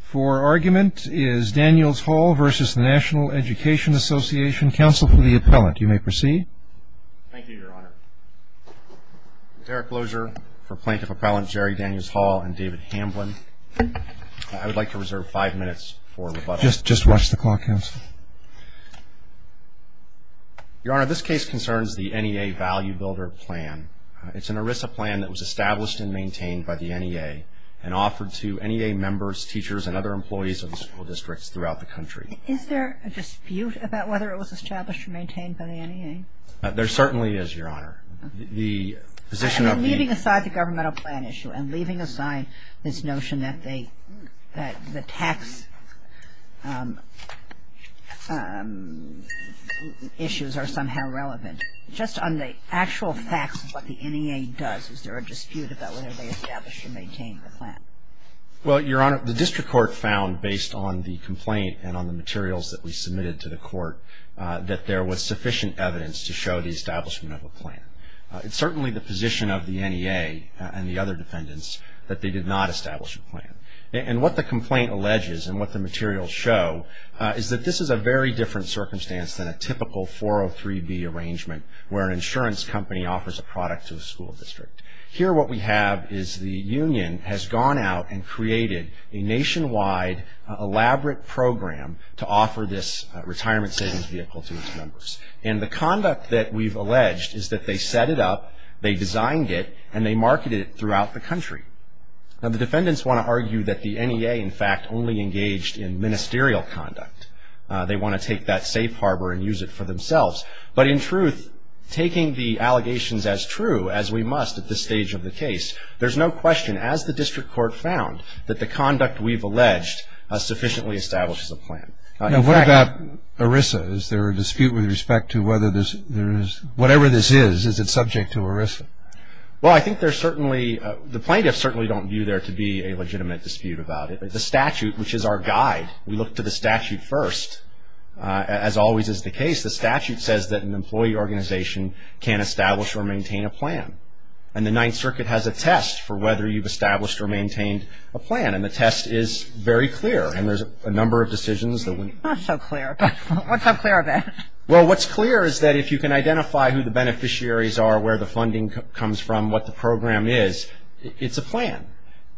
For argument is Daniels-Hall v. National Education Association, counsel for the appellant. You may proceed. Thank you, Your Honor. Derek Lozier for Plaintiff-Appellant Jerry Daniels-Hall and David Hamblin. I would like to reserve five minutes for rebuttal. Just watch the clock, counsel. Your Honor, this case concerns the NEA Value Builder Plan. It's an ERISA plan that was established and maintained by the NEA and offered to NEA members, teachers, and other employees of the school districts throughout the country. Is there a dispute about whether it was established or maintained by the NEA? There certainly is, Your Honor. The position of the... And leaving aside the governmental plan issue and leaving aside this notion that the tax issues are somehow relevant, just on the actual facts of what the NEA does, is there a dispute about whether they established or maintained the plan? Well, Your Honor, the district court found, based on the complaint and on the materials that we submitted to the court, that there was sufficient evidence to show the establishment of a plan. It's certainly the position of the NEA and the other defendants that they did not establish a plan. And what the complaint alleges and what the materials show is that this is a very different circumstance than a typical 403B arrangement where an insurance company offers a product to a school district. Here, what we have is the union has gone out and created a nationwide elaborate program to offer this retirement savings vehicle to its members. And the conduct that we've alleged is that they set it up, they designed it, and they marketed it throughout the country. Now, the defendants want to argue that the NEA, in fact, only engaged in ministerial conduct. They want to take that safe harbor and use it for themselves. But in truth, taking the allegations as true, as we must at this stage of the case, there's no question, as the district court found, that the conduct we've alleged sufficiently establishes a plan. Now, what about ERISA? Is there a dispute with respect to whether there is, whatever this is, is it subject to ERISA? Well, I think there's certainly, the plaintiffs certainly don't view there to be a legitimate dispute about it. But the statute, which is our guide, we look to the statute first. As always is the case, the statute says that an employee organization can't establish or maintain a plan. And the Ninth Circuit has a test for whether you've established or maintained a plan. And the test is very clear. And there's a number of decisions that we... It's not so clear. What's so clear about it? Well, what's clear is that if you can identify who the beneficiaries are, where the funding comes from, what the program is, it's a plan.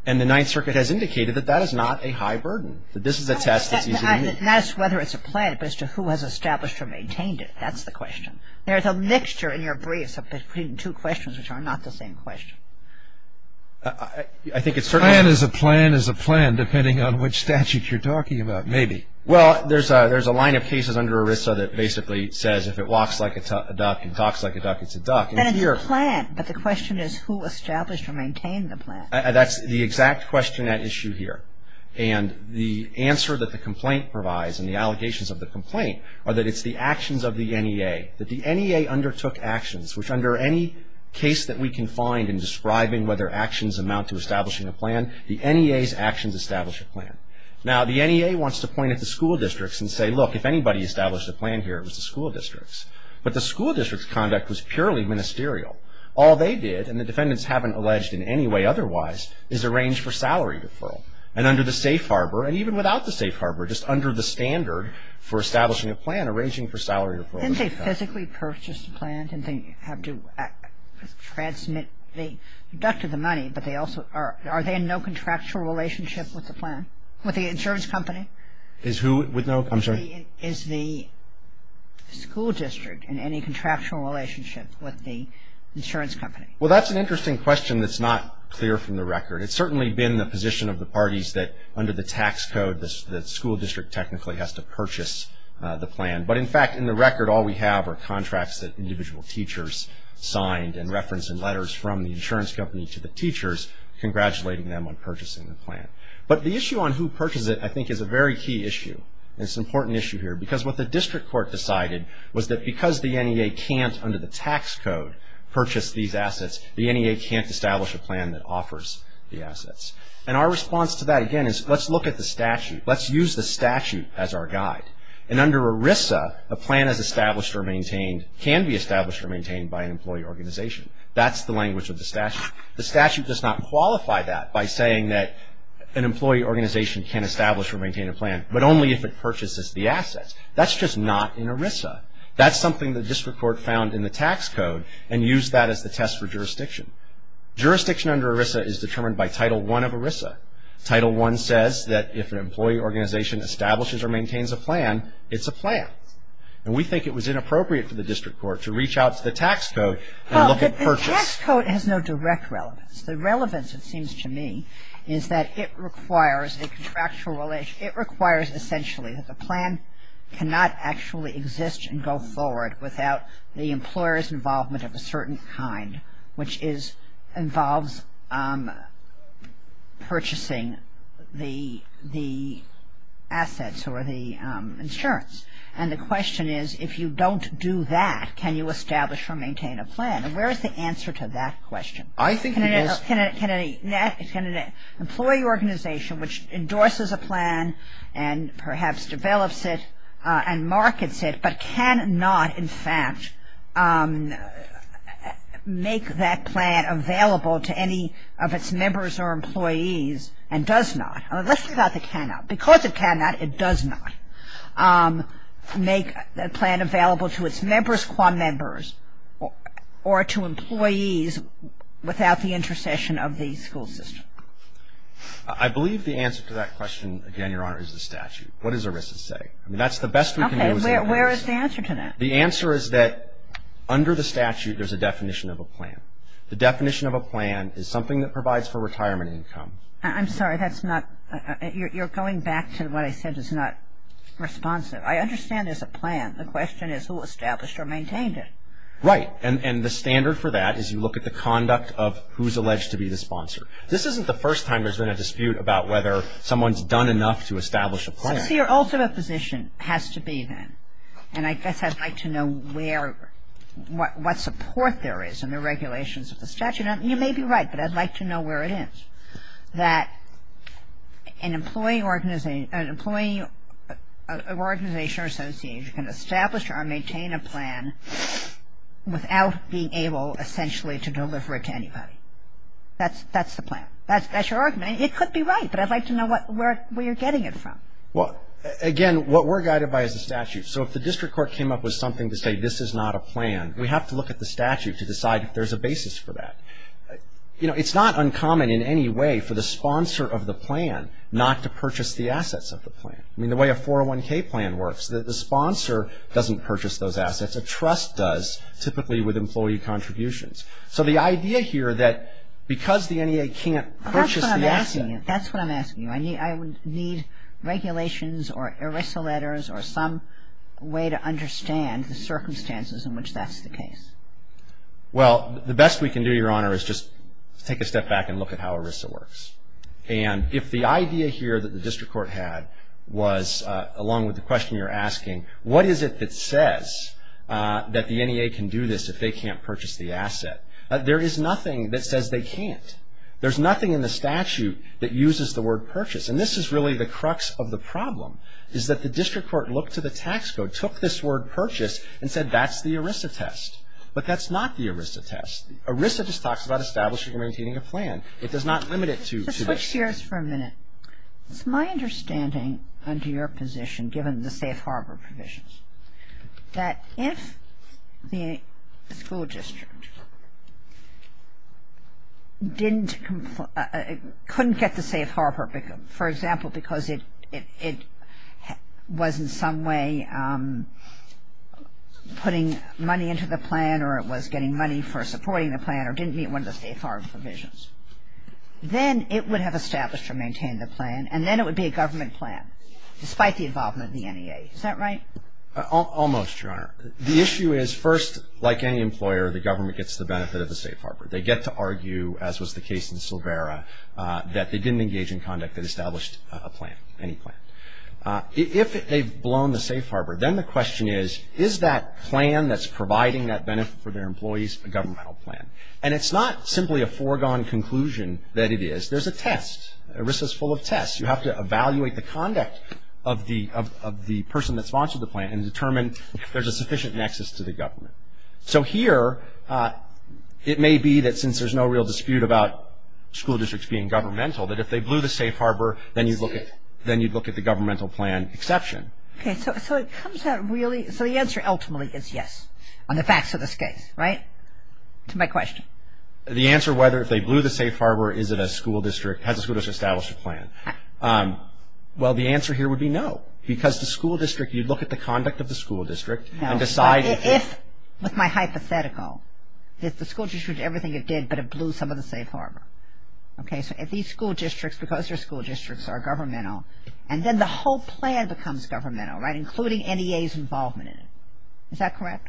And the Ninth Circuit has indicated that that is not a high burden. That this is a test that's easy to meet. Not as to whether it's a plan, but as to who has established or maintained it. That's the question. There's a mixture in your briefs between two questions which are not the same question. I think it's certainly... A plan is a plan is a plan, depending on which statute you're talking about. Maybe. Well, there's a line of cases under ERISA that basically says if it walks like a duck and talks like a duck, it's a duck. Then it's a plan. But the question is who established or maintained the plan? That's the exact question at issue here. And the answer that the complaint provides and the allegations of the complaint are that it's the actions of the NEA. That the NEA undertook actions, which under any case that we can find in describing whether actions amount to establishing a plan, the NEA's actions establish a plan. Now the NEA wants to point at the school districts and say, look, if anybody established a plan here, it was the school districts. But the school district's conduct was purely ministerial. All they did, and the defendants haven't alleged in any way otherwise, is arrange for salary deferral. And under the safe harbor, and even without the safe harbor, just under the standard for establishing a plan, arranging for salary deferral... Didn't they physically purchase the plan? Didn't they have to transmit the... deducted the money, but they also... Are they in no contractual relationship with the plan? With the insurance company? Is who with no... I'm sorry? Is the school district in any contractual relationship with the insurance company? Well, that's an interesting question that's not clear from the record. It's certainly been the position of the parties that under the tax code, the school district technically has to purchase the plan. But in fact, in the record, all we have are contracts that individual teachers signed and reference and letters from the insurance company to the teachers congratulating them on purchasing the plan. But the issue on who purchases it, I think, is a very key issue. It's an important issue here because what the district court decided was that because the NEA can't, under the tax code, purchase these assets, the NEA can't establish a plan that offers the assets. And our response to that, again, is let's look at the statute. Let's use the statute as our guide. And under ERISA, a plan is established or maintained, can be established or maintained by an employee organization. That's the language of the statute. The statute does not qualify that by saying that an employee organization can't establish or maintain a plan, but only if it purchases the assets. That's just not in ERISA. That's something the district court found in the tax code and used that as the test for jurisdiction. Jurisdiction under ERISA is determined by Title I of ERISA. Title I says that if an employee organization establishes or maintains a plan, it's a plan. And we think it was inappropriate for the district court to reach out to the tax code and look at purchase. The tax code has no direct relevance. The relevance, it seems to me, is that it requires a contractual relationship. It requires, essentially, that the plan cannot actually exist and go forward without the employer's involvement of a certain kind, which involves purchasing the assets or the insurance. And the question is, if you don't do that, can you establish or maintain a plan? And where is the answer to that question? Can an employee organization, which endorses a plan and perhaps develops it and markets it, but cannot, in fact, make that plan available to any of its members or employees and does not? Let's think about the cannot. Because it cannot, it does not make a plan available to its members qua members or to employees without the intercession of the school system. I believe the answer to that question, again, Your Honor, is the statute. What does ERISA say? I mean, that's the best we can do as a law firm. Okay. Where is the answer to that? The answer is that under the statute, there's a definition of a plan. The definition of a plan is something that provides for retirement income. I'm sorry. That's not you're going back to what I said is not responsive. I understand The question is a plan. The question is who established or maintained it. Right. And the standard for that is you look at the conduct of who's alleged to be the sponsor. This isn't the first time there's been a dispute about whether someone's done enough to establish a plan. So your ultimate position has to be then, and I guess I'd like to know where, what support there is in the regulations of the statute. You may be right, but I'd like to know where it is, that an employee organization or association can establish or maintain a plan without being able, essentially, to deliver it to anybody. That's the plan. That's your argument. It could be right, but I'd like to know where you're getting it from. Well, again, what we're guided by is the statute. So if the district court came up with something to say this is not a plan, we have to look at the statute to decide if there's a basis for that. You know, it's not uncommon in any way for the sponsor of the plan not to purchase the assets of the plan. I mean, the way a 401K plan works, the sponsor doesn't purchase those assets. A trust does, typically with employee contributions. So the idea here that because the NEA can't purchase the asset... That's what I'm asking you. That's what I'm asking you. I need regulations or ERISA letters or some way to understand the circumstances in which that's the case. Well, the best we can do, Your Honor, is just take a step back and look at how ERISA works. And if the idea here that the district court had was, along with the question you're asking, what is it that says that the NEA can do this if they can't purchase the asset? There is nothing that says they can't. There's nothing in the statute that uses the word purchase. And this is really the crux of the problem, is that the district court looked to the tax code, took this word purchase, and said, that's the ERISA test. But that's not the ERISA test. ERISA just talks about establishing and maintaining a plan. It does not limit it to this. Let's switch gears for a minute. It's my understanding under your position, given the safe harbor provisions, that if the school district couldn't get the safe harbor, for example, because it was in some way putting money into the plan, or it was getting money for supporting the plan, or didn't meet one of the safe harbor provisions, then it would have established or maintained the plan, and then it would be a government plan, despite the involvement of the NEA. Is that right? Almost, Your Honor. The issue is, first, like any employer, the government gets the benefit of the safe harbor. They get to argue, as was the case in Silvera, that they didn't engage in conduct that established a plan, any plan. If they've blown the safe harbor, then the question is, is that plan that's providing that benefit for their employees a governmental plan? And it's not simply a foregone conclusion that it is. There's a test. ERISA is full of tests. You have to evaluate the conduct of the person that sponsored the plan and determine if there's a sufficient nexus to the government. So here, it may be that since there's no real dispute about school districts being governmental, that if they blew the safe harbor, then you'd look at the governmental plan exception. Okay. So it comes out really, so the answer ultimately is yes, on the facts of this case, right? That's my question. The answer whether if they blew the safe harbor, is it a school district, has the school district established a plan? Well, the answer here would be no, because the school district, you'd look at the conduct of the school district and decide if... No. If, with my hypothetical, if the school district did everything it did, but it blew some of the safe harbor. Okay. So if these school districts, because they're school districts, are governmental, and then the whole plan becomes governmental, right? Including NEA's involvement in it. Is that correct?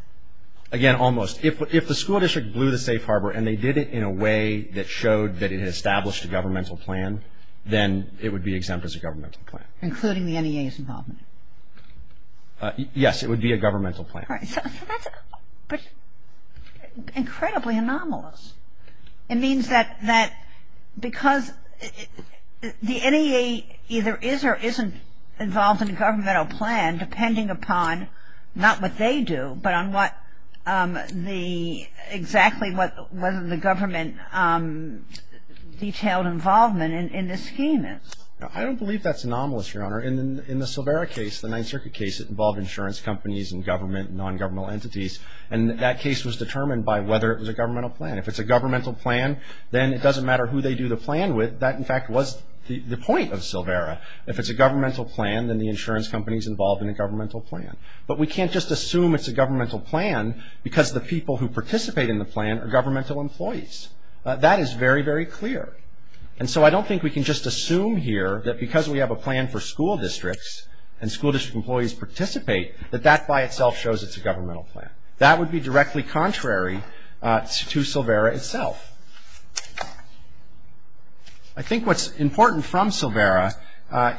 Again, almost. If the school district blew the safe harbor and they did it in a way that showed that it had established a governmental plan, then it would be exempt as a governmental plan. Including the NEA's involvement? Yes. It would be a governmental plan. All right. So that's incredibly anomalous. It means that because the NEA either is or isn't involved in a governmental plan, depending upon not what they do, but on what the, exactly what the government detailed involvement in this scheme is. I don't believe that's anomalous, Your Honor. In the Silvera case, the Ninth Circuit case, it involved insurance companies and government and non-governmental entities. And that case was determined by whether it was a governmental plan. If it's a governmental plan, then it doesn't matter who they do the plan with. That, in fact, was the point of Silvera. If it's a governmental plan, then the insurance company's involved in a governmental plan. But we can't just assume it's a governmental plan because the people who participate in the plan are governmental employees. That is very, very clear. And so I don't think we can just assume here that because we have a plan for school districts, and school district employees participate, that that by itself shows it's a governmental plan. That would be directly contrary to Silvera itself. I think what's important from Silvera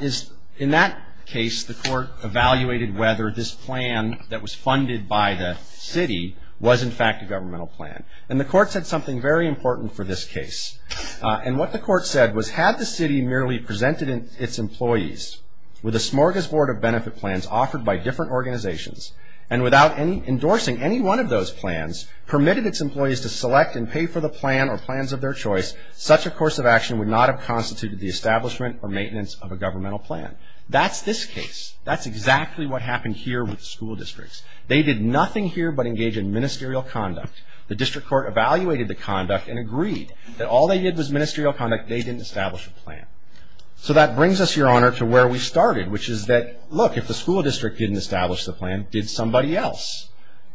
is in that case, the court evaluated whether this plan that was funded by the city was, in fact, a governmental plan. And the court said something very important for this case. And what the court said was, had the city merely presented its employees with a smorgasbord of benefit plans offered by different organizations, and without endorsing any one of those plans, permitted its employees to select and pay for the plan or plans of their choice, such a course of action would not have constituted the establishment or maintenance of a governmental plan. That's this case. That's exactly what happened here with school districts. They did nothing here but engage in ministerial conduct. The district court evaluated the conduct and agreed that all they did was ministerial conduct. They didn't establish a plan. So that brings us, Your Honor, to where we started, which is that, look, if the school district didn't establish the plan, did somebody else?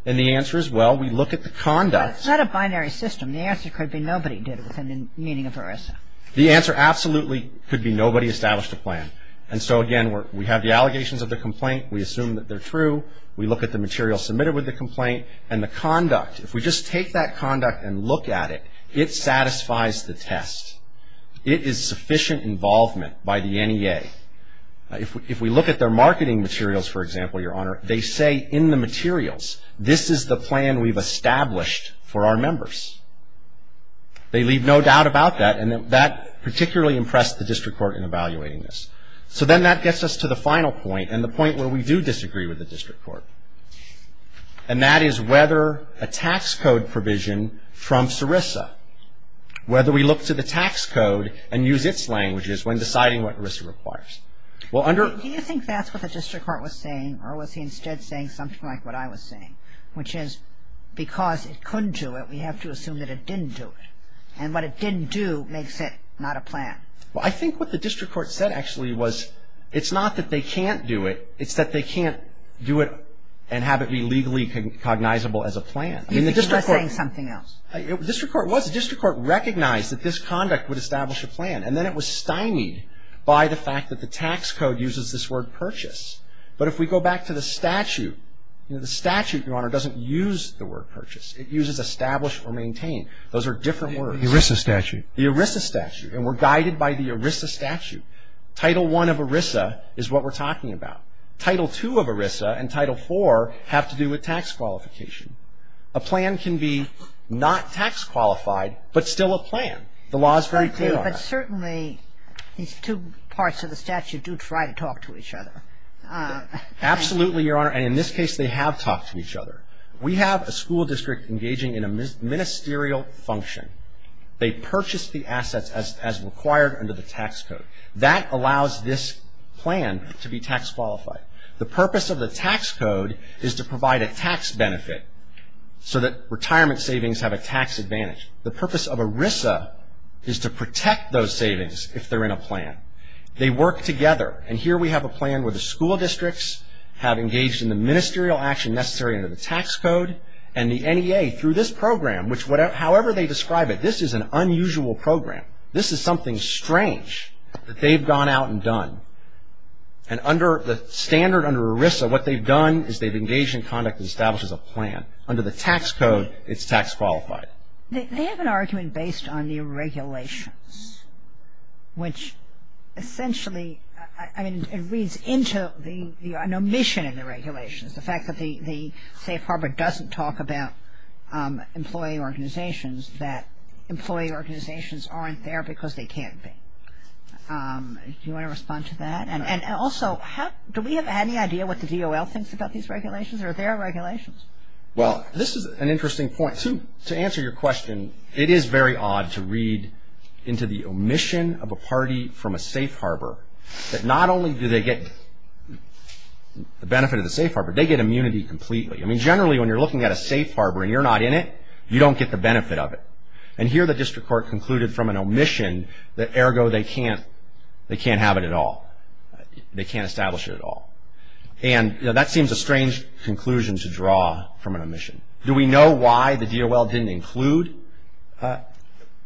And the answer is, well, we look at the conduct. But it's not a binary system. The answer could be nobody did it within the meaning of ERISA. The answer absolutely could be nobody established a plan. And so, again, we have the allegations of the complaint. We assume that they're true. We look at the material submitted with the test. It is sufficient involvement by the NEA. If we look at their marketing materials, for example, Your Honor, they say in the materials, this is the plan we've established for our members. They leave no doubt about that. And that particularly impressed the district court in evaluating this. So then that gets us to the final point and the point where we do disagree with the district court. And that is whether a tax code provision from SARISA, whether we look to the tax code and use its languages when deciding what ERISA requires. Well, under... Do you think that's what the district court was saying? Or was he instead saying something like what I was saying, which is, because it couldn't do it, we have to assume that it didn't do it. And what it didn't do makes it not a plan. Well, I think what the district court said, actually, was it's not that they can't do it. It's that they can't do it and have it be legally cognizable as a plan. You think he was saying something else. The district court was. The district court recognized that this conduct would establish a plan. And then it was stymied by the fact that the tax code uses this word purchase. But if we go back to the statute, you know, the statute, Your Honor, doesn't use the word purchase. It uses establish or maintain. Those are different words. The ERISA statute. The ERISA statute. And we're guided by the ERISA statute. Title I of ERISA is what we're talking about. Title II of ERISA and Title IV have to do with tax qualification. A plan can be not tax qualified, but still a plan. The law is very clear on that. But certainly these two parts of the statute do try to talk to each other. Absolutely, Your Honor. And in this case, they have talked to each other. We have a school district engaging in a ministerial function. They purchase the assets as required under the tax code. That allows this plan to be tax qualified. The purpose of the tax code is to provide a tax benefit so that retirement savings have a tax advantage. The purpose of ERISA is to protect those savings if they're in a plan. They work together. And here we have a plan where the school districts have engaged in the ministerial action necessary under the tax code. And the NEA, through this program, however they describe it, this is an unusual program. This is something strange that they've gone out and done. And under the standard under ERISA, what they've done is they've engaged in conduct that establishes a plan. Under the tax code, it's tax qualified. They have an argument based on the regulations, which essentially, I mean, it reads into an omission in the regulations. The fact that the Safe Harbor doesn't talk about employee organizations, that they're there because they can't be. Do you want to respond to that? And also, do we have any idea what the DOL thinks about these regulations or their regulations? Well, this is an interesting point. To answer your question, it is very odd to read into the omission of a party from a Safe Harbor that not only do they get the benefit of the Safe Harbor, they get immunity completely. I mean, generally when you're looking at a Safe Harbor and you're not in it, you don't get the benefit of it. And here the district court concluded from an omission that ergo they can't have it at all. They can't establish it at all. And that seems a strange conclusion to draw from an omission. Do we know why the DOL didn't include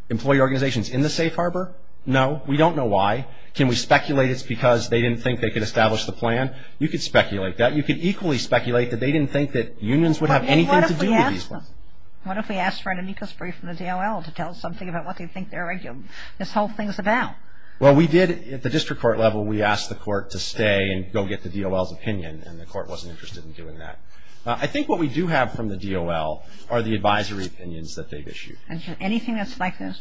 employee organizations in the Safe Harbor? No. We don't know why. Can we speculate it's because they didn't think they could establish the plan? You could speculate that. You could equally speculate that they didn't think that unions would have anything to do with these laws. What if we asked for an amicus brief from the DOL to tell us something about what they think this whole thing is about? Well, we did at the district court level. We asked the court to stay and go get the DOL's opinion and the court wasn't interested in doing that. I think what we do have from the DOL are the advisory opinions that they've issued. Anything that's like this?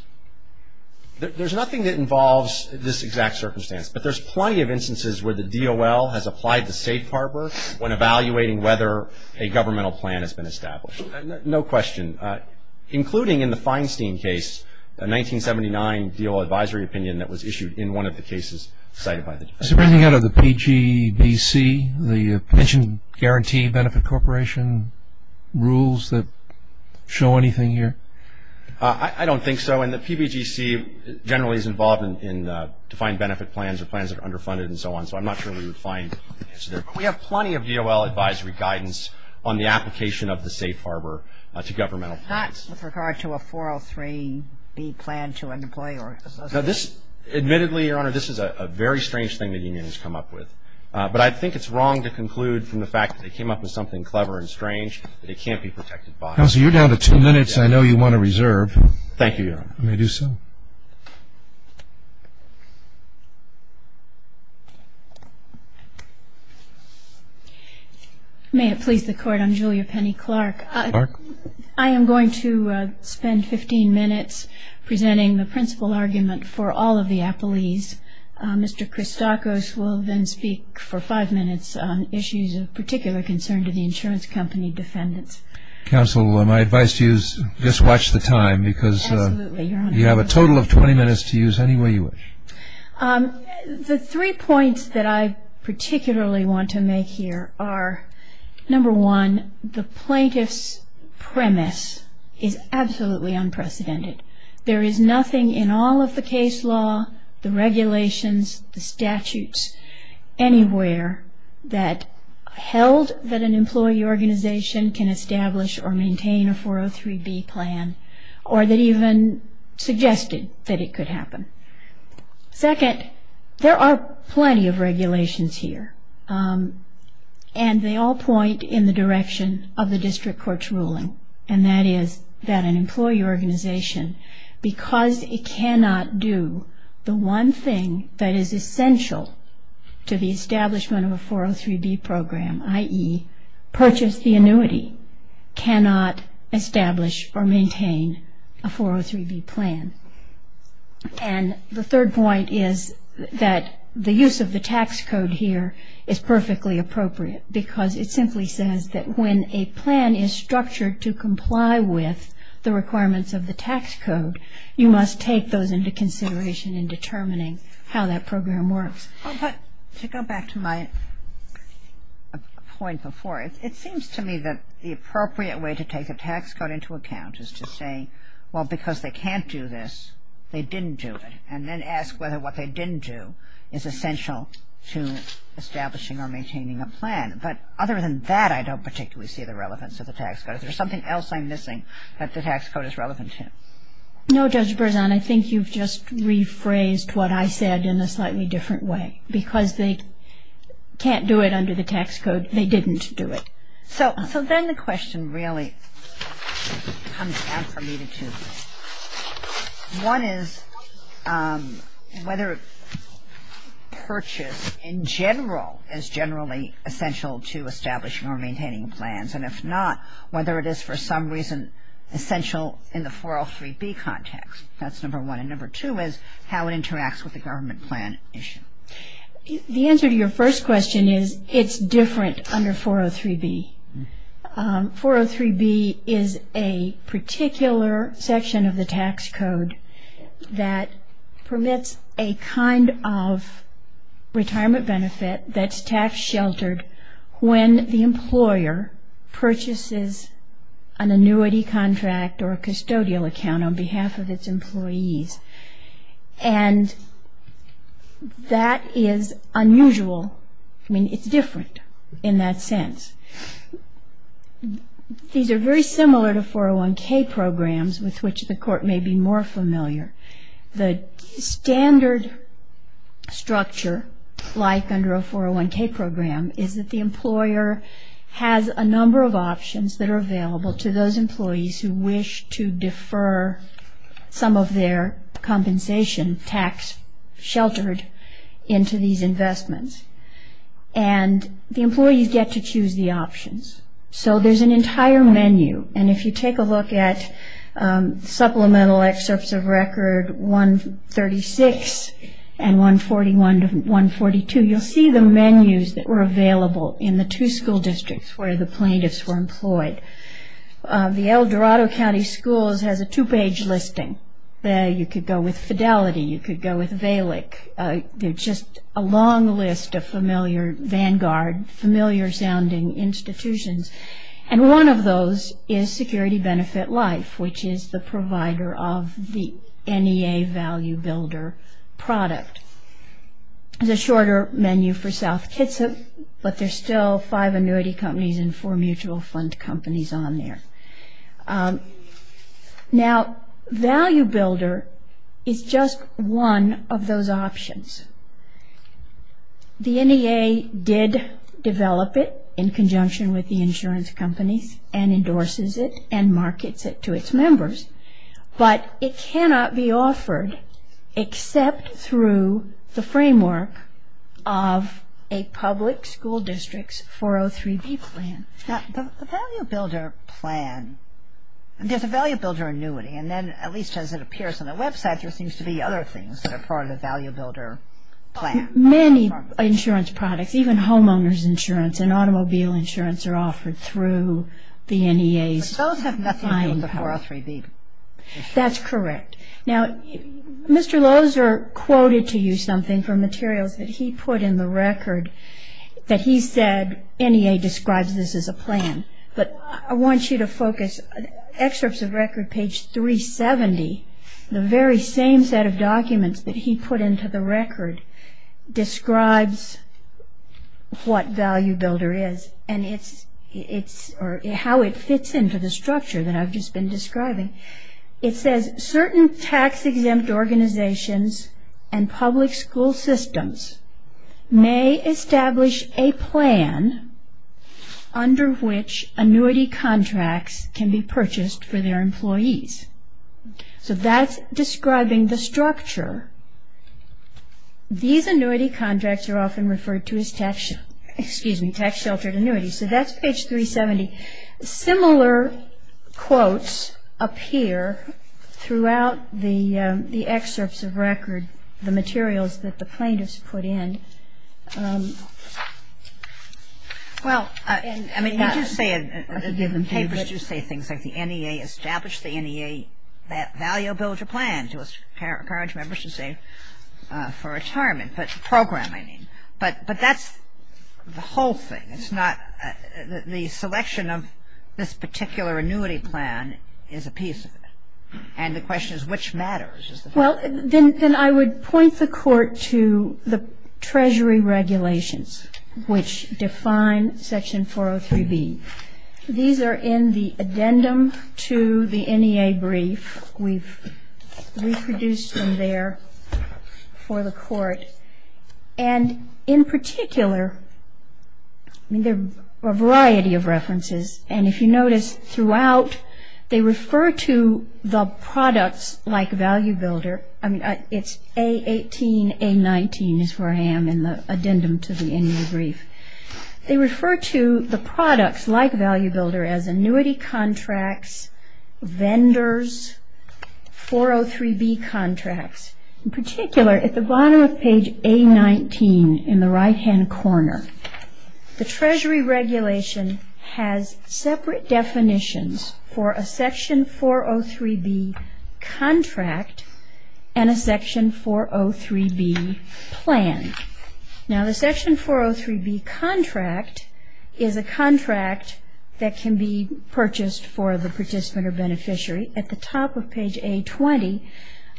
There's nothing that involves this exact circumstance, but there's plenty of instances where the DOL has applied to Safe Harbor when evaluating whether a plan is underfunded. I have a quick question. Including in the Feinstein case, a 1979 DOL advisory opinion that was issued in one of the cases cited by the district court. Is there anything out of the PGBC, the pension guarantee benefit corporation rules that show anything here? I don't think so. And the PBGC generally is involved in defined benefit plans or plans that are underfunded and so on. So I'm not sure we would find an answer there. We have plenty of DOL advisory guidance on the application of the Safe Harbor to governmental plans. Not with regard to a 403B plan to employ or associate? Admittedly, Your Honor, this is a very strange thing that unions come up with. But I think it's wrong to conclude from the fact that they came up with something clever and strange that it can't be protected by. Counselor, you're down to two minutes. I know you want to reserve. Thank you, Your Honor. I may do so. May it please the Court, I'm Julia Penny Clark. I am going to spend 15 minutes presenting the principal argument for all of the appellees. Mr. Christakis will then speak for five minutes on issues of particular concern to the insurance company defendants. Counselor, my advice to you is just watch the time because you have a ton of time. Absolutely, Your Honor. You have a total of 20 minutes to use any way you wish. The three points that I particularly want to make here are number one, the plaintiff's premise is absolutely unprecedented. There is nothing in all of the case law, the regulations, the statutes anywhere that held that an employee organization can establish or maintain a 403B plan or that even suggested that it could happen. Second, there are plenty of regulations here and they all point in the direction of the district court's ruling and that is that an employee organization because it cannot do the one thing that is essential to the establishment of a 403B program, i.e., purchase the annuity, cannot establish or maintain a 403B plan. And the third point is that the use of the tax code here is perfectly appropriate because it simply says that when a plan is structured to comply with the requirements of the tax code, you must take those into consideration in determining how that program works. To go back to my point before, it seems to me that the appropriate way to take a tax code into account is to say well, because they can't do this, they didn't do it and then ask whether what they didn't do is essential to establishing or maintaining a plan. But other than that, I don't particularly see the relevance of the tax code. There's something else I'm missing that the tax code is relevant to. No, Judge Berzon, I think you've just rephrased what I said in a slightly different way. Because they can't do it under the tax code, they didn't do it. So then the question really comes down for me to two things. One is whether purchase in general is generally essential to establishing or maintaining plans. And if not, whether it is for some reason essential in the 403B context. That's number one. And number two is how it interacts with the government plan issue. The answer to your first question is it's different under 403B. 403B is a particular section of the tax code that permits a kind of retirement benefit that's tax sheltered when the employer purchases an annuity contract or a custodial account on behalf of its employees. And that is unusual. I mean, it's different in that sense. These are very similar to 401K programs with which the court may be more familiar. The standard structure, like under a 401K program, is that the employer has a number of options that are available to those employees who wish to defer some of their compensation tax sheltered into these investments. And the employees get to choose the options. So there's an entire menu and if you take a look at supplemental excerpts of record 136 and 141 to 142, you'll see the menus that were available in the two school districts where the plaintiffs were employed. The age listing. You could go with Fidelity. You could go with Valic. Just a long list of familiar, vanguard familiar sounding institutions. And one of those is Security Benefit Life, which is the provider of the NEA Value Builder product. There's a shorter menu for South Kitsap, but there's still five annuity companies and four mutual fund companies on there. Now, Value Builder is just one of those options. The NEA did develop it in conjunction with the insurance companies and endorses it and markets it to its members, but it cannot be offered except through the framework of a public school district's 403B plan. Now, the Value Builder plan, there's a Value Builder annuity, and then at least as it appears on the website, there seems to be other things that are part of the Value Builder plan. Many insurance products, even homeowner's insurance and automobile insurance are offered through the NEA's buying power. But those have nothing to do with the 403B. That's correct. Now, Mr. Loeser quoted to you something from materials that he put in the record that he describes this as a plan, but I want you to focus excerpts of record page 370, the very same set of documents that he put into the record, describes what Value Builder is and how it fits into the structure that I've just been describing. It says, certain tax-exempt organizations and public school systems may establish a plan under which annuity contracts can be purchased for their employees. So that's describing the structure. These annuity contracts are often referred to as tax-sheltered annuities. So that's page 370. Similar quotes appear throughout the excerpts of record, the materials that the plaintiffs put in. Well, I mean, you do say in papers, you say things like the NEA established the NEA Value Builder plan to encourage members to save for retirement, but program, I mean. But that's the whole thing. It's not the selection of this particular annuity plan is a piece of it. And the question is which matters. Well, then I would point the Treasury regulations, which define Section 403B. These are in the addendum to the NEA brief. We've reproduced them there for the Court. And in particular, I mean, there are a variety of references. And if you notice throughout, they refer to the products like Value Builder. I mean, it's A18, A19 is where I am in the addendum to the NEA brief. They refer to the products like Value Builder as annuity contracts, vendors, 403B contracts. In particular, at the bottom of page A19 in the right-hand corner, the Treasury regulation has separate definitions for a Section 403B contract and a Section 403B plan. Now, the Section 403B contract is a contract that can be purchased for the participant or beneficiary. At the top of page A20,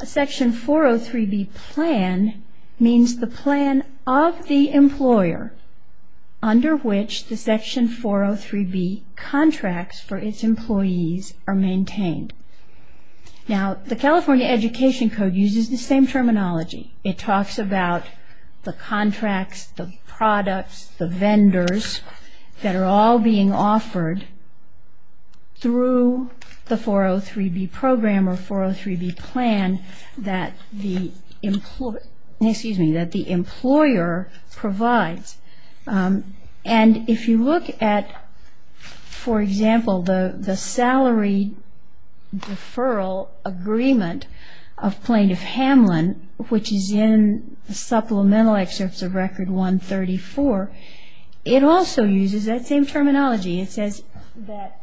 a Section 403B plan means the plan of the employer under which the Section 403B contracts for its employees are maintained. Now, the California Education Code uses the same terminology. It talks about the contracts, the products, the vendors that are all being offered through the 403B program or 403B plan that the employer provides. And if you look at, for example, the salary deferral agreement of Plaintiff Hamlin, which is in the supplemental excerpts of Record 134, it also uses that same terminology. It says that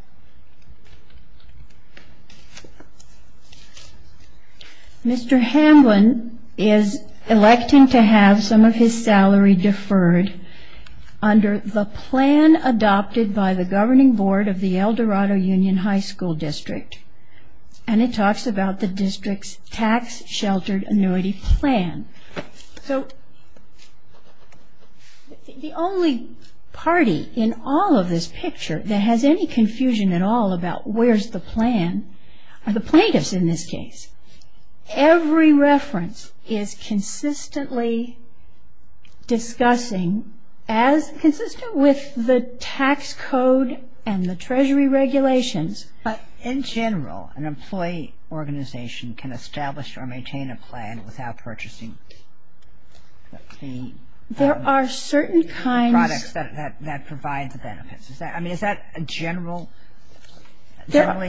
Mr. Hamlin is elected to have some of his salary deferred under the plan adopted by the high school district. And it talks about the district's tax-sheltered annuity plan. The only party in all of this picture that has any confusion at all about where's the plan are the plaintiffs in this case. Every reference is consistently discussing as consistent with the tax code and the Treasury regulations. But in general, an employee organization can establish or maintain a plan without purchasing the products that provide the benefits. I mean, is that generally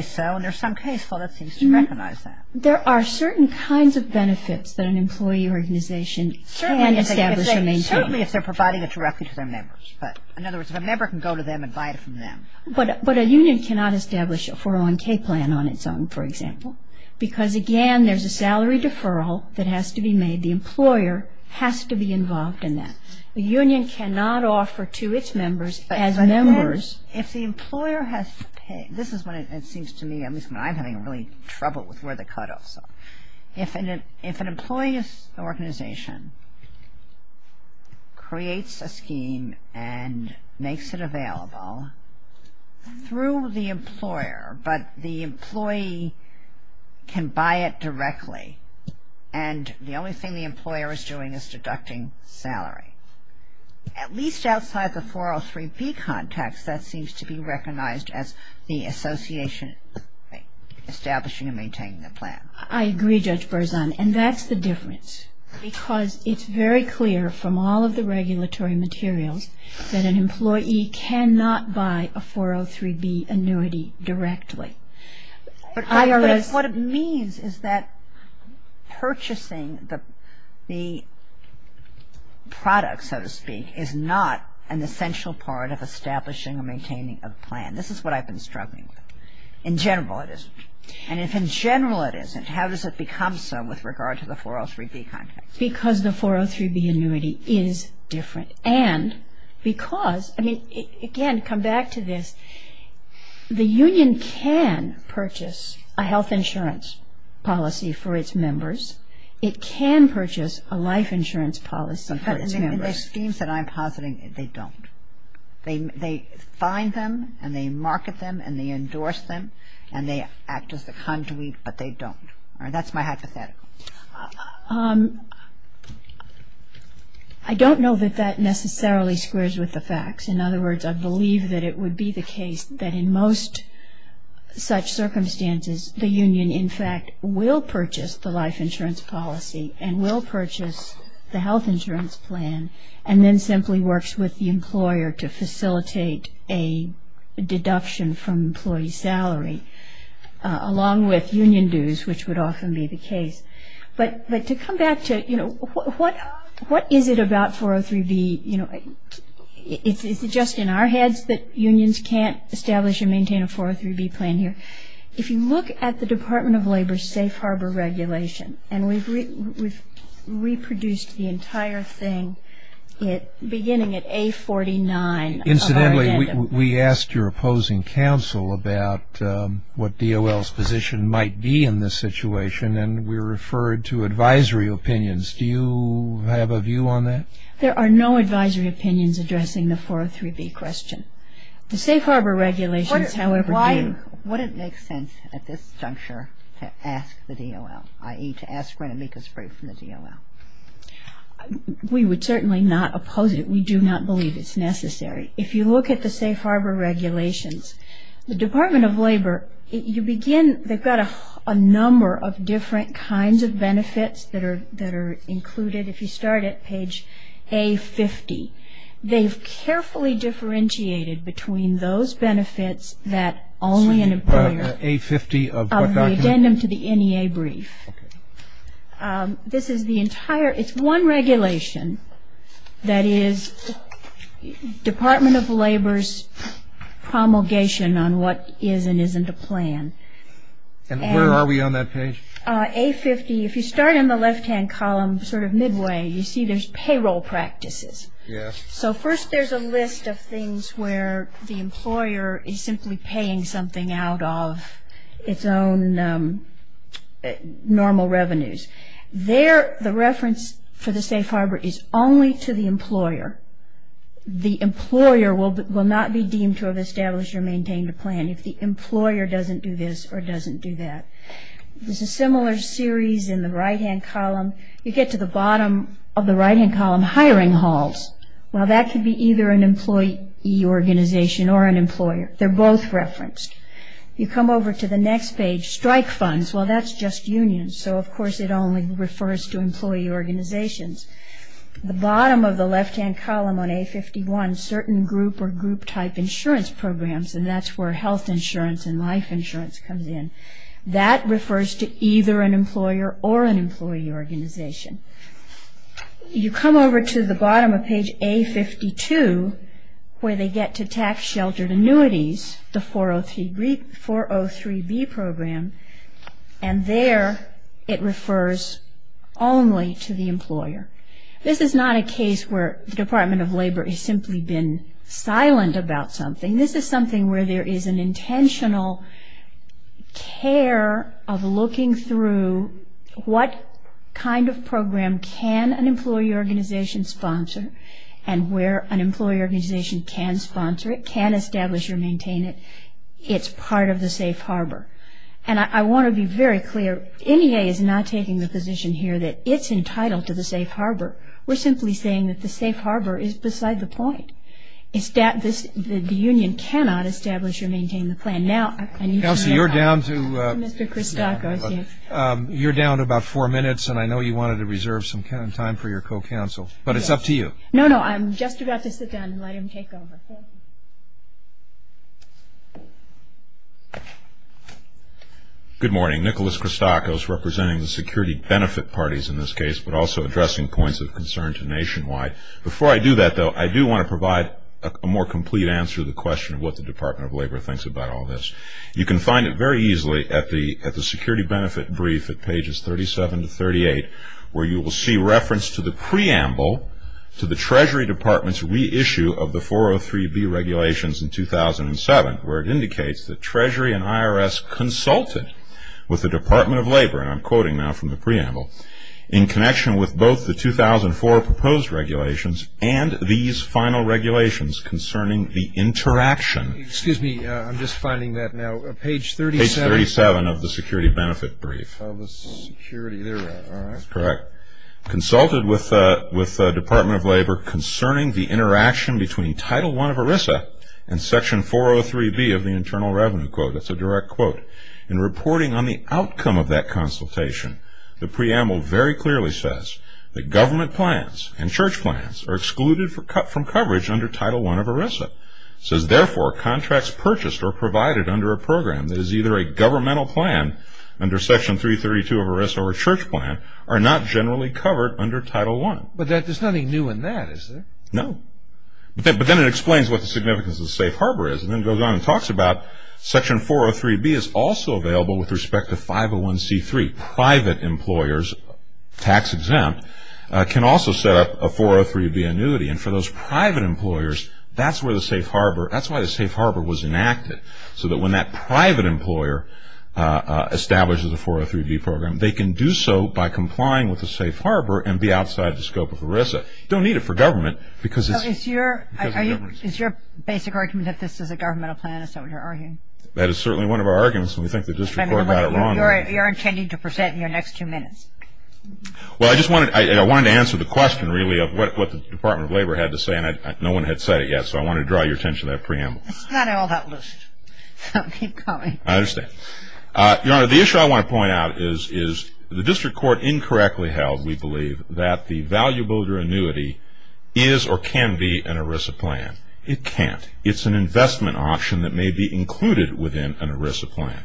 so? And there's some case law that seems to recognize that. There are certain kinds of benefits that an employee organization can establish or maintain. In other words, if a member can go to them and buy it from them. But a union cannot establish a 401k plan on its own, for example, because, again, there's a salary deferral that has to be made. The employer has to be involved in that. The union cannot offer to its members as members. This is when it seems to me, at least when I'm having trouble with where the cutoffs are. If an employee organization creates a scheme and makes it available through the employer, but the employee can buy it directly and the only thing the employer is doing is deducting salary. At least outside the 403b context, that seems to be recognized as the association establishing and maintaining a plan. Because it's very clear from all of the regulatory materials that an employee cannot buy a 403b annuity directly. What it means is that purchasing the product, so to speak, is not an essential part of establishing or maintaining a plan. This is what I've been struggling with. In general, it isn't. And if in general it isn't, how does it become so with regard to the 403b context? Because the 403b annuity is different. And because, again, come back to this, the union can purchase a health insurance policy for its members. It can purchase a life insurance policy for its members. In the schemes that I'm positing, they don't. They find them and they market them and they endorse them and they act as the conduit, but they don't. That's my hypothetical. I don't know that that necessarily squares with the facts. In other words, I believe that it would be the case that in most such circumstances the union, in fact, will purchase the life insurance policy and will purchase the health insurance plan and then simply works with the employer to facilitate a deduction from employee salary, along with union dues, which would often be the case. But to come back to what is it about 403b? Is it just in our heads that unions can't establish and maintain a 403b plan here? If you look at the Department of Labor's safe harbor regulation, and we've reproduced the entire thing beginning at A49. Incidentally, we asked your opposing counsel about what DOL's position might be in this situation, and we referred to advisory opinions. Do you have a view on that? There are no advisory opinions addressing the 403b question. The safe harbor regulations, however, do. Would it make sense at this juncture to ask the DOL, i.e. to ask for an amicus brief from the DOL? We would certainly not oppose it. We do not believe it's necessary. If you look at the safe harbor regulations, the Department of Labor, you begin, they've got a number of different kinds of benefits that are included. If you start at page A50, they've carefully differentiated between those benefits that only an employer of the addendum to the NEA brief This is the entire, it's one regulation that is Department of Labor's promulgation on what is and isn't a plan. And where are we on that page? If you start in the left-hand column, sort of midway, you see there's payroll practices. So first there's a list of things where the employer is simply paying something out of its own normal revenues. There, the reference for the safe harbor is only to the employer. The employer will not be deemed to have established or maintained a plan if the employer doesn't do this or doesn't do that. There's a similar series in the right-hand column. You get to the bottom of the right-hand column, hiring halls. Well, that could be either an employee organization or an employer. They're both referenced. You come over to the next page, strike funds. Well, that's just unions. So, of course, it only refers to employee organizations. The bottom of the left-hand column on A51, certain group or group type insurance programs, and that's where health insurance and life insurance comes in. That refers to either an employer or an employee organization. You come over to the bottom of page A52, where they get to tax sheltered 403B program, and there it refers only to the employer. This is not a case where the Department of Labor has simply been silent about something. This is something where there is an intentional care of looking through what kind of program can an employee organization sponsor and where an employee organization can sponsor it, can establish or maintain it. It's part of the safe harbor. And I want to be very clear. NEA is not taking the position here that it's entitled to the safe harbor. We're simply saying that the safe harbor is beside the point. The union cannot establish or maintain the plan. Now, I need to... You're down to about four minutes, and I know you wanted to reserve some time for your co-counsel, but it's up to you. No, no, I'm just about to sit down and let him take over. Good morning. Nicholas Christakis representing the security benefit parties in this case, but also addressing points of concern to Nationwide. Before I do that, though, I do want to provide a more complete answer to the question of what the Department of Labor thinks about all this. You can find it very easily at the security benefit brief at pages 37 to 38, where you will see reference to the preamble to the Treasury Department's reissue of the 403B regulations in 2007, where it indicates that Treasury and IRS consulted with the Department of Labor, and I'm quoting now from the preamble, in connection with both the 2004 proposed regulations and these final regulations concerning the interaction... Excuse me, I'm just finding that now. Page 37. Page 37 of the security benefit brief. Of the security, there we go. That's correct. Consulted with the Department of Labor concerning the interaction between Title I of ERISA and Section 403B of the Internal Revenue Quote. That's a direct quote. In reporting on the outcome of that consultation, the preamble very clearly says that government plans and church plans are excluded from coverage under Title I of ERISA. It says, therefore, contracts purchased or provided under a program that is either a governmental plan under Section 332 of ERISA or a church plan are not generally covered under Title I. But there's nothing new in that, is there? No. But then it explains what the significance of the safe harbor is, and then goes on and talks about Section 403B is also available with respect to 501C3. Private employers, tax-exempt, can also set up a 403B annuity, and for those private employers, that's why the safe harbor was enacted, so that when that private employer establishes a 403B program, they can do so by complying with the safe harbor and be outside the scope of ERISA. You don't need it for government, because it's... Is your basic argument that this is a governmental plan is what you're arguing? That is certainly one of our arguments, and we think the district court got it wrong. You're intending to present in your next two minutes. Well, I just wanted to answer the question, really, of what the Department of Labor had to say, and no one had said it yet, so I wanted to draw your attention to that preamble. It's not all that loose, so keep coming. I understand. Your Honor, the issue I want to point out is the district court incorrectly held, we believe, that the value builder annuity is or can be an ERISA plan. It can't. It's an investment option that may be included within an ERISA plan.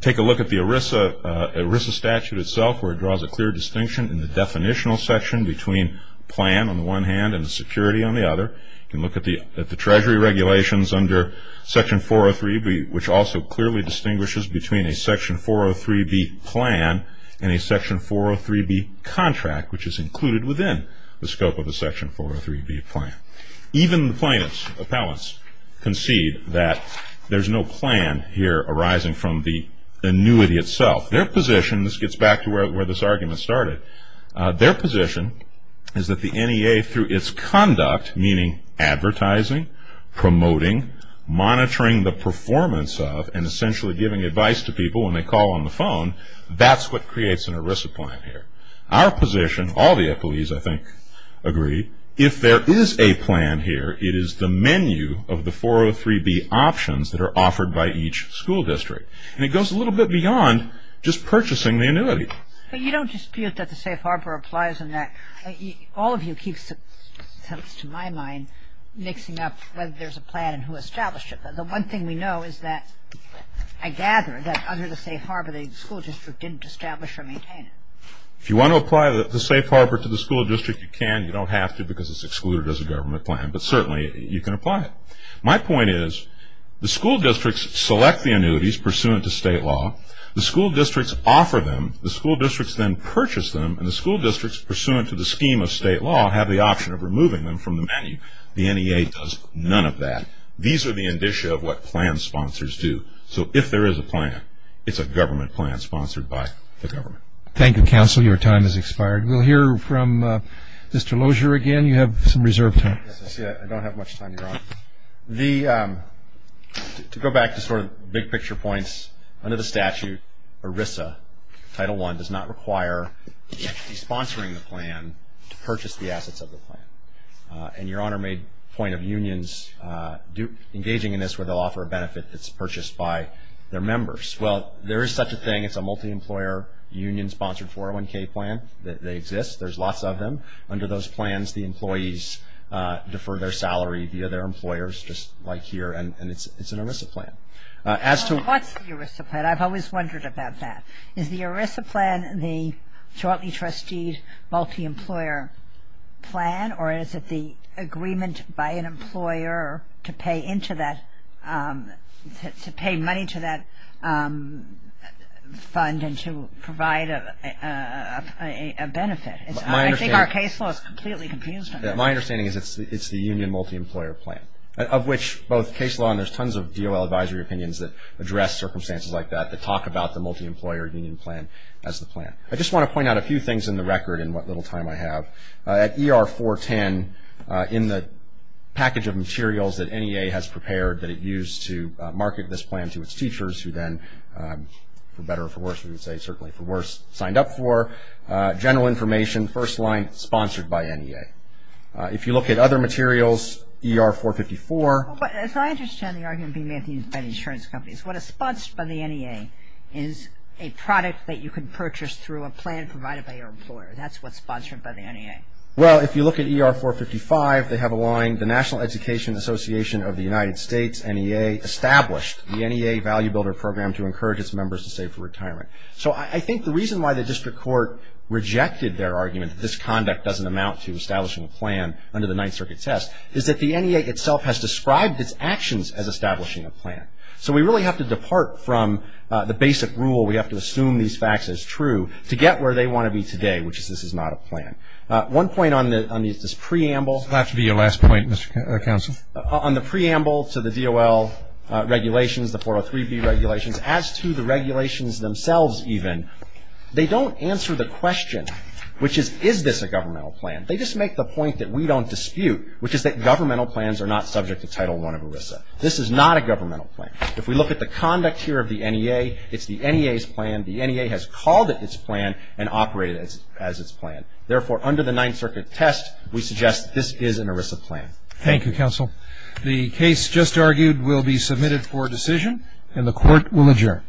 Take a look at the ERISA statute itself, where it draws a clear distinction in the definitional section between plan on the one hand and security on the other. You can look at the treasury regulations under Section 403B, which also clearly distinguishes between a Section 403B plan and a Section 403B contract, which is included within the scope of the Section 403B plan. Even the plaintiffs' appellants concede that there's no plan here arising from the annuity itself. Their position, this gets back to where this argument started, their position is that the NEA, through its conduct, meaning advertising, promoting, monitoring the performance of, and essentially giving advice to people when they call on the phone, that's what creates an ERISA plan here. Our position, all the appellees, I think, agree, if there is a plan here, it is the menu of the 403B options that are offered by each school district. And it goes a little bit beyond just purchasing the annuity. But you don't dispute that the safe harbor applies on that. All of you keep mixing up whether there's a plan and who established it. But the one thing we know is that, I gather, that under the safe harbor, the school district didn't establish or maintain it. If you want to apply the safe harbor to the school district, you can. You don't have to because it's excluded as a government plan. But certainly, you can apply it. My point is the school districts select the annuities pursuant to state law, the school districts offer them, the school districts then purchase them, and the school districts pursuant to the scheme of state law have the option of removing them from the menu. The NEA does none of that. These are the indicia of what plan sponsors do. So if there is a plan, it's a government plan sponsored by the government. Thank you, Counsel. Your time has expired. We'll hear from Mr. Lozier again. You have some reserve time. I don't have much time. To go back to sort of big picture points, under the statute, ERISA, Title I, does not require the plan to purchase the assets of the plan. And Your Honor made a point of unions engaging in this where they'll offer a benefit that's purchased by their members. Well, there is such a thing. It's a multi-employer union sponsored 401k plan. They exist. There's lots of them. Under those plans, the employees defer their salary via their employers, just like here, and it's an ERISA plan. What's the ERISA plan? I've always wondered about that. Is the ERISA plan the jointly trusteed multi-employer plan, or is it the agreement by an employer to pay into that, to pay money to that fund and to provide a benefit? I think our case law is completely confused on that. My understanding is it's the union multi-employer plan, of which both case law and there's tons of DOL advisory opinions that address circumstances like that, that talk about the multi-employer union plan as the plan. I just want to point out a few things in the record in what little time I have. At ER-410, in the package of materials that NEA has prepared that it used to market this plan to its teachers, who then, for better or for worse, we would say certainly for worse, signed up for, general information, first line sponsored by NEA. If you look at other materials, ER-454. But as I understand the argument being made by the insurance companies, what is sponsored by the NEA is a product that you can purchase through a plan provided by your employer. That's what's sponsored by the NEA. Well, if you look at ER-455, they have a line, the National Education Association of the United States, NEA, established the NEA Value Builder Program to encourage its members to save for retirement. So I think the reason why the district court rejected their argument that this conduct doesn't amount to establishing a plan under the Ninth Circuit test is that the NEA itself has described its actions as establishing a plan. So we really have to depart from the basic rule, we have to assume these facts as true, to get where they want to be today, which is this is not a plan. One point on this preamble... This will have to be your last point, Mr. Counsel. On the preamble to the DOL regulations, the 403B regulations, as to the regulations themselves even, they don't answer the question, which is, is this a governmental plan? They just make the point that we don't dispute, which is that governmental plans are not subject to Title I of ERISA. This is not a governmental plan. If we look at the conduct here of the NEA, it's the NEA's plan, the NEA has called it its plan, and operated as its plan. Therefore, under the Ninth Circuit test we suggest this is an ERISA plan. Thank you, Counsel. The case just argued will be submitted for decision, and the Court will adjourn.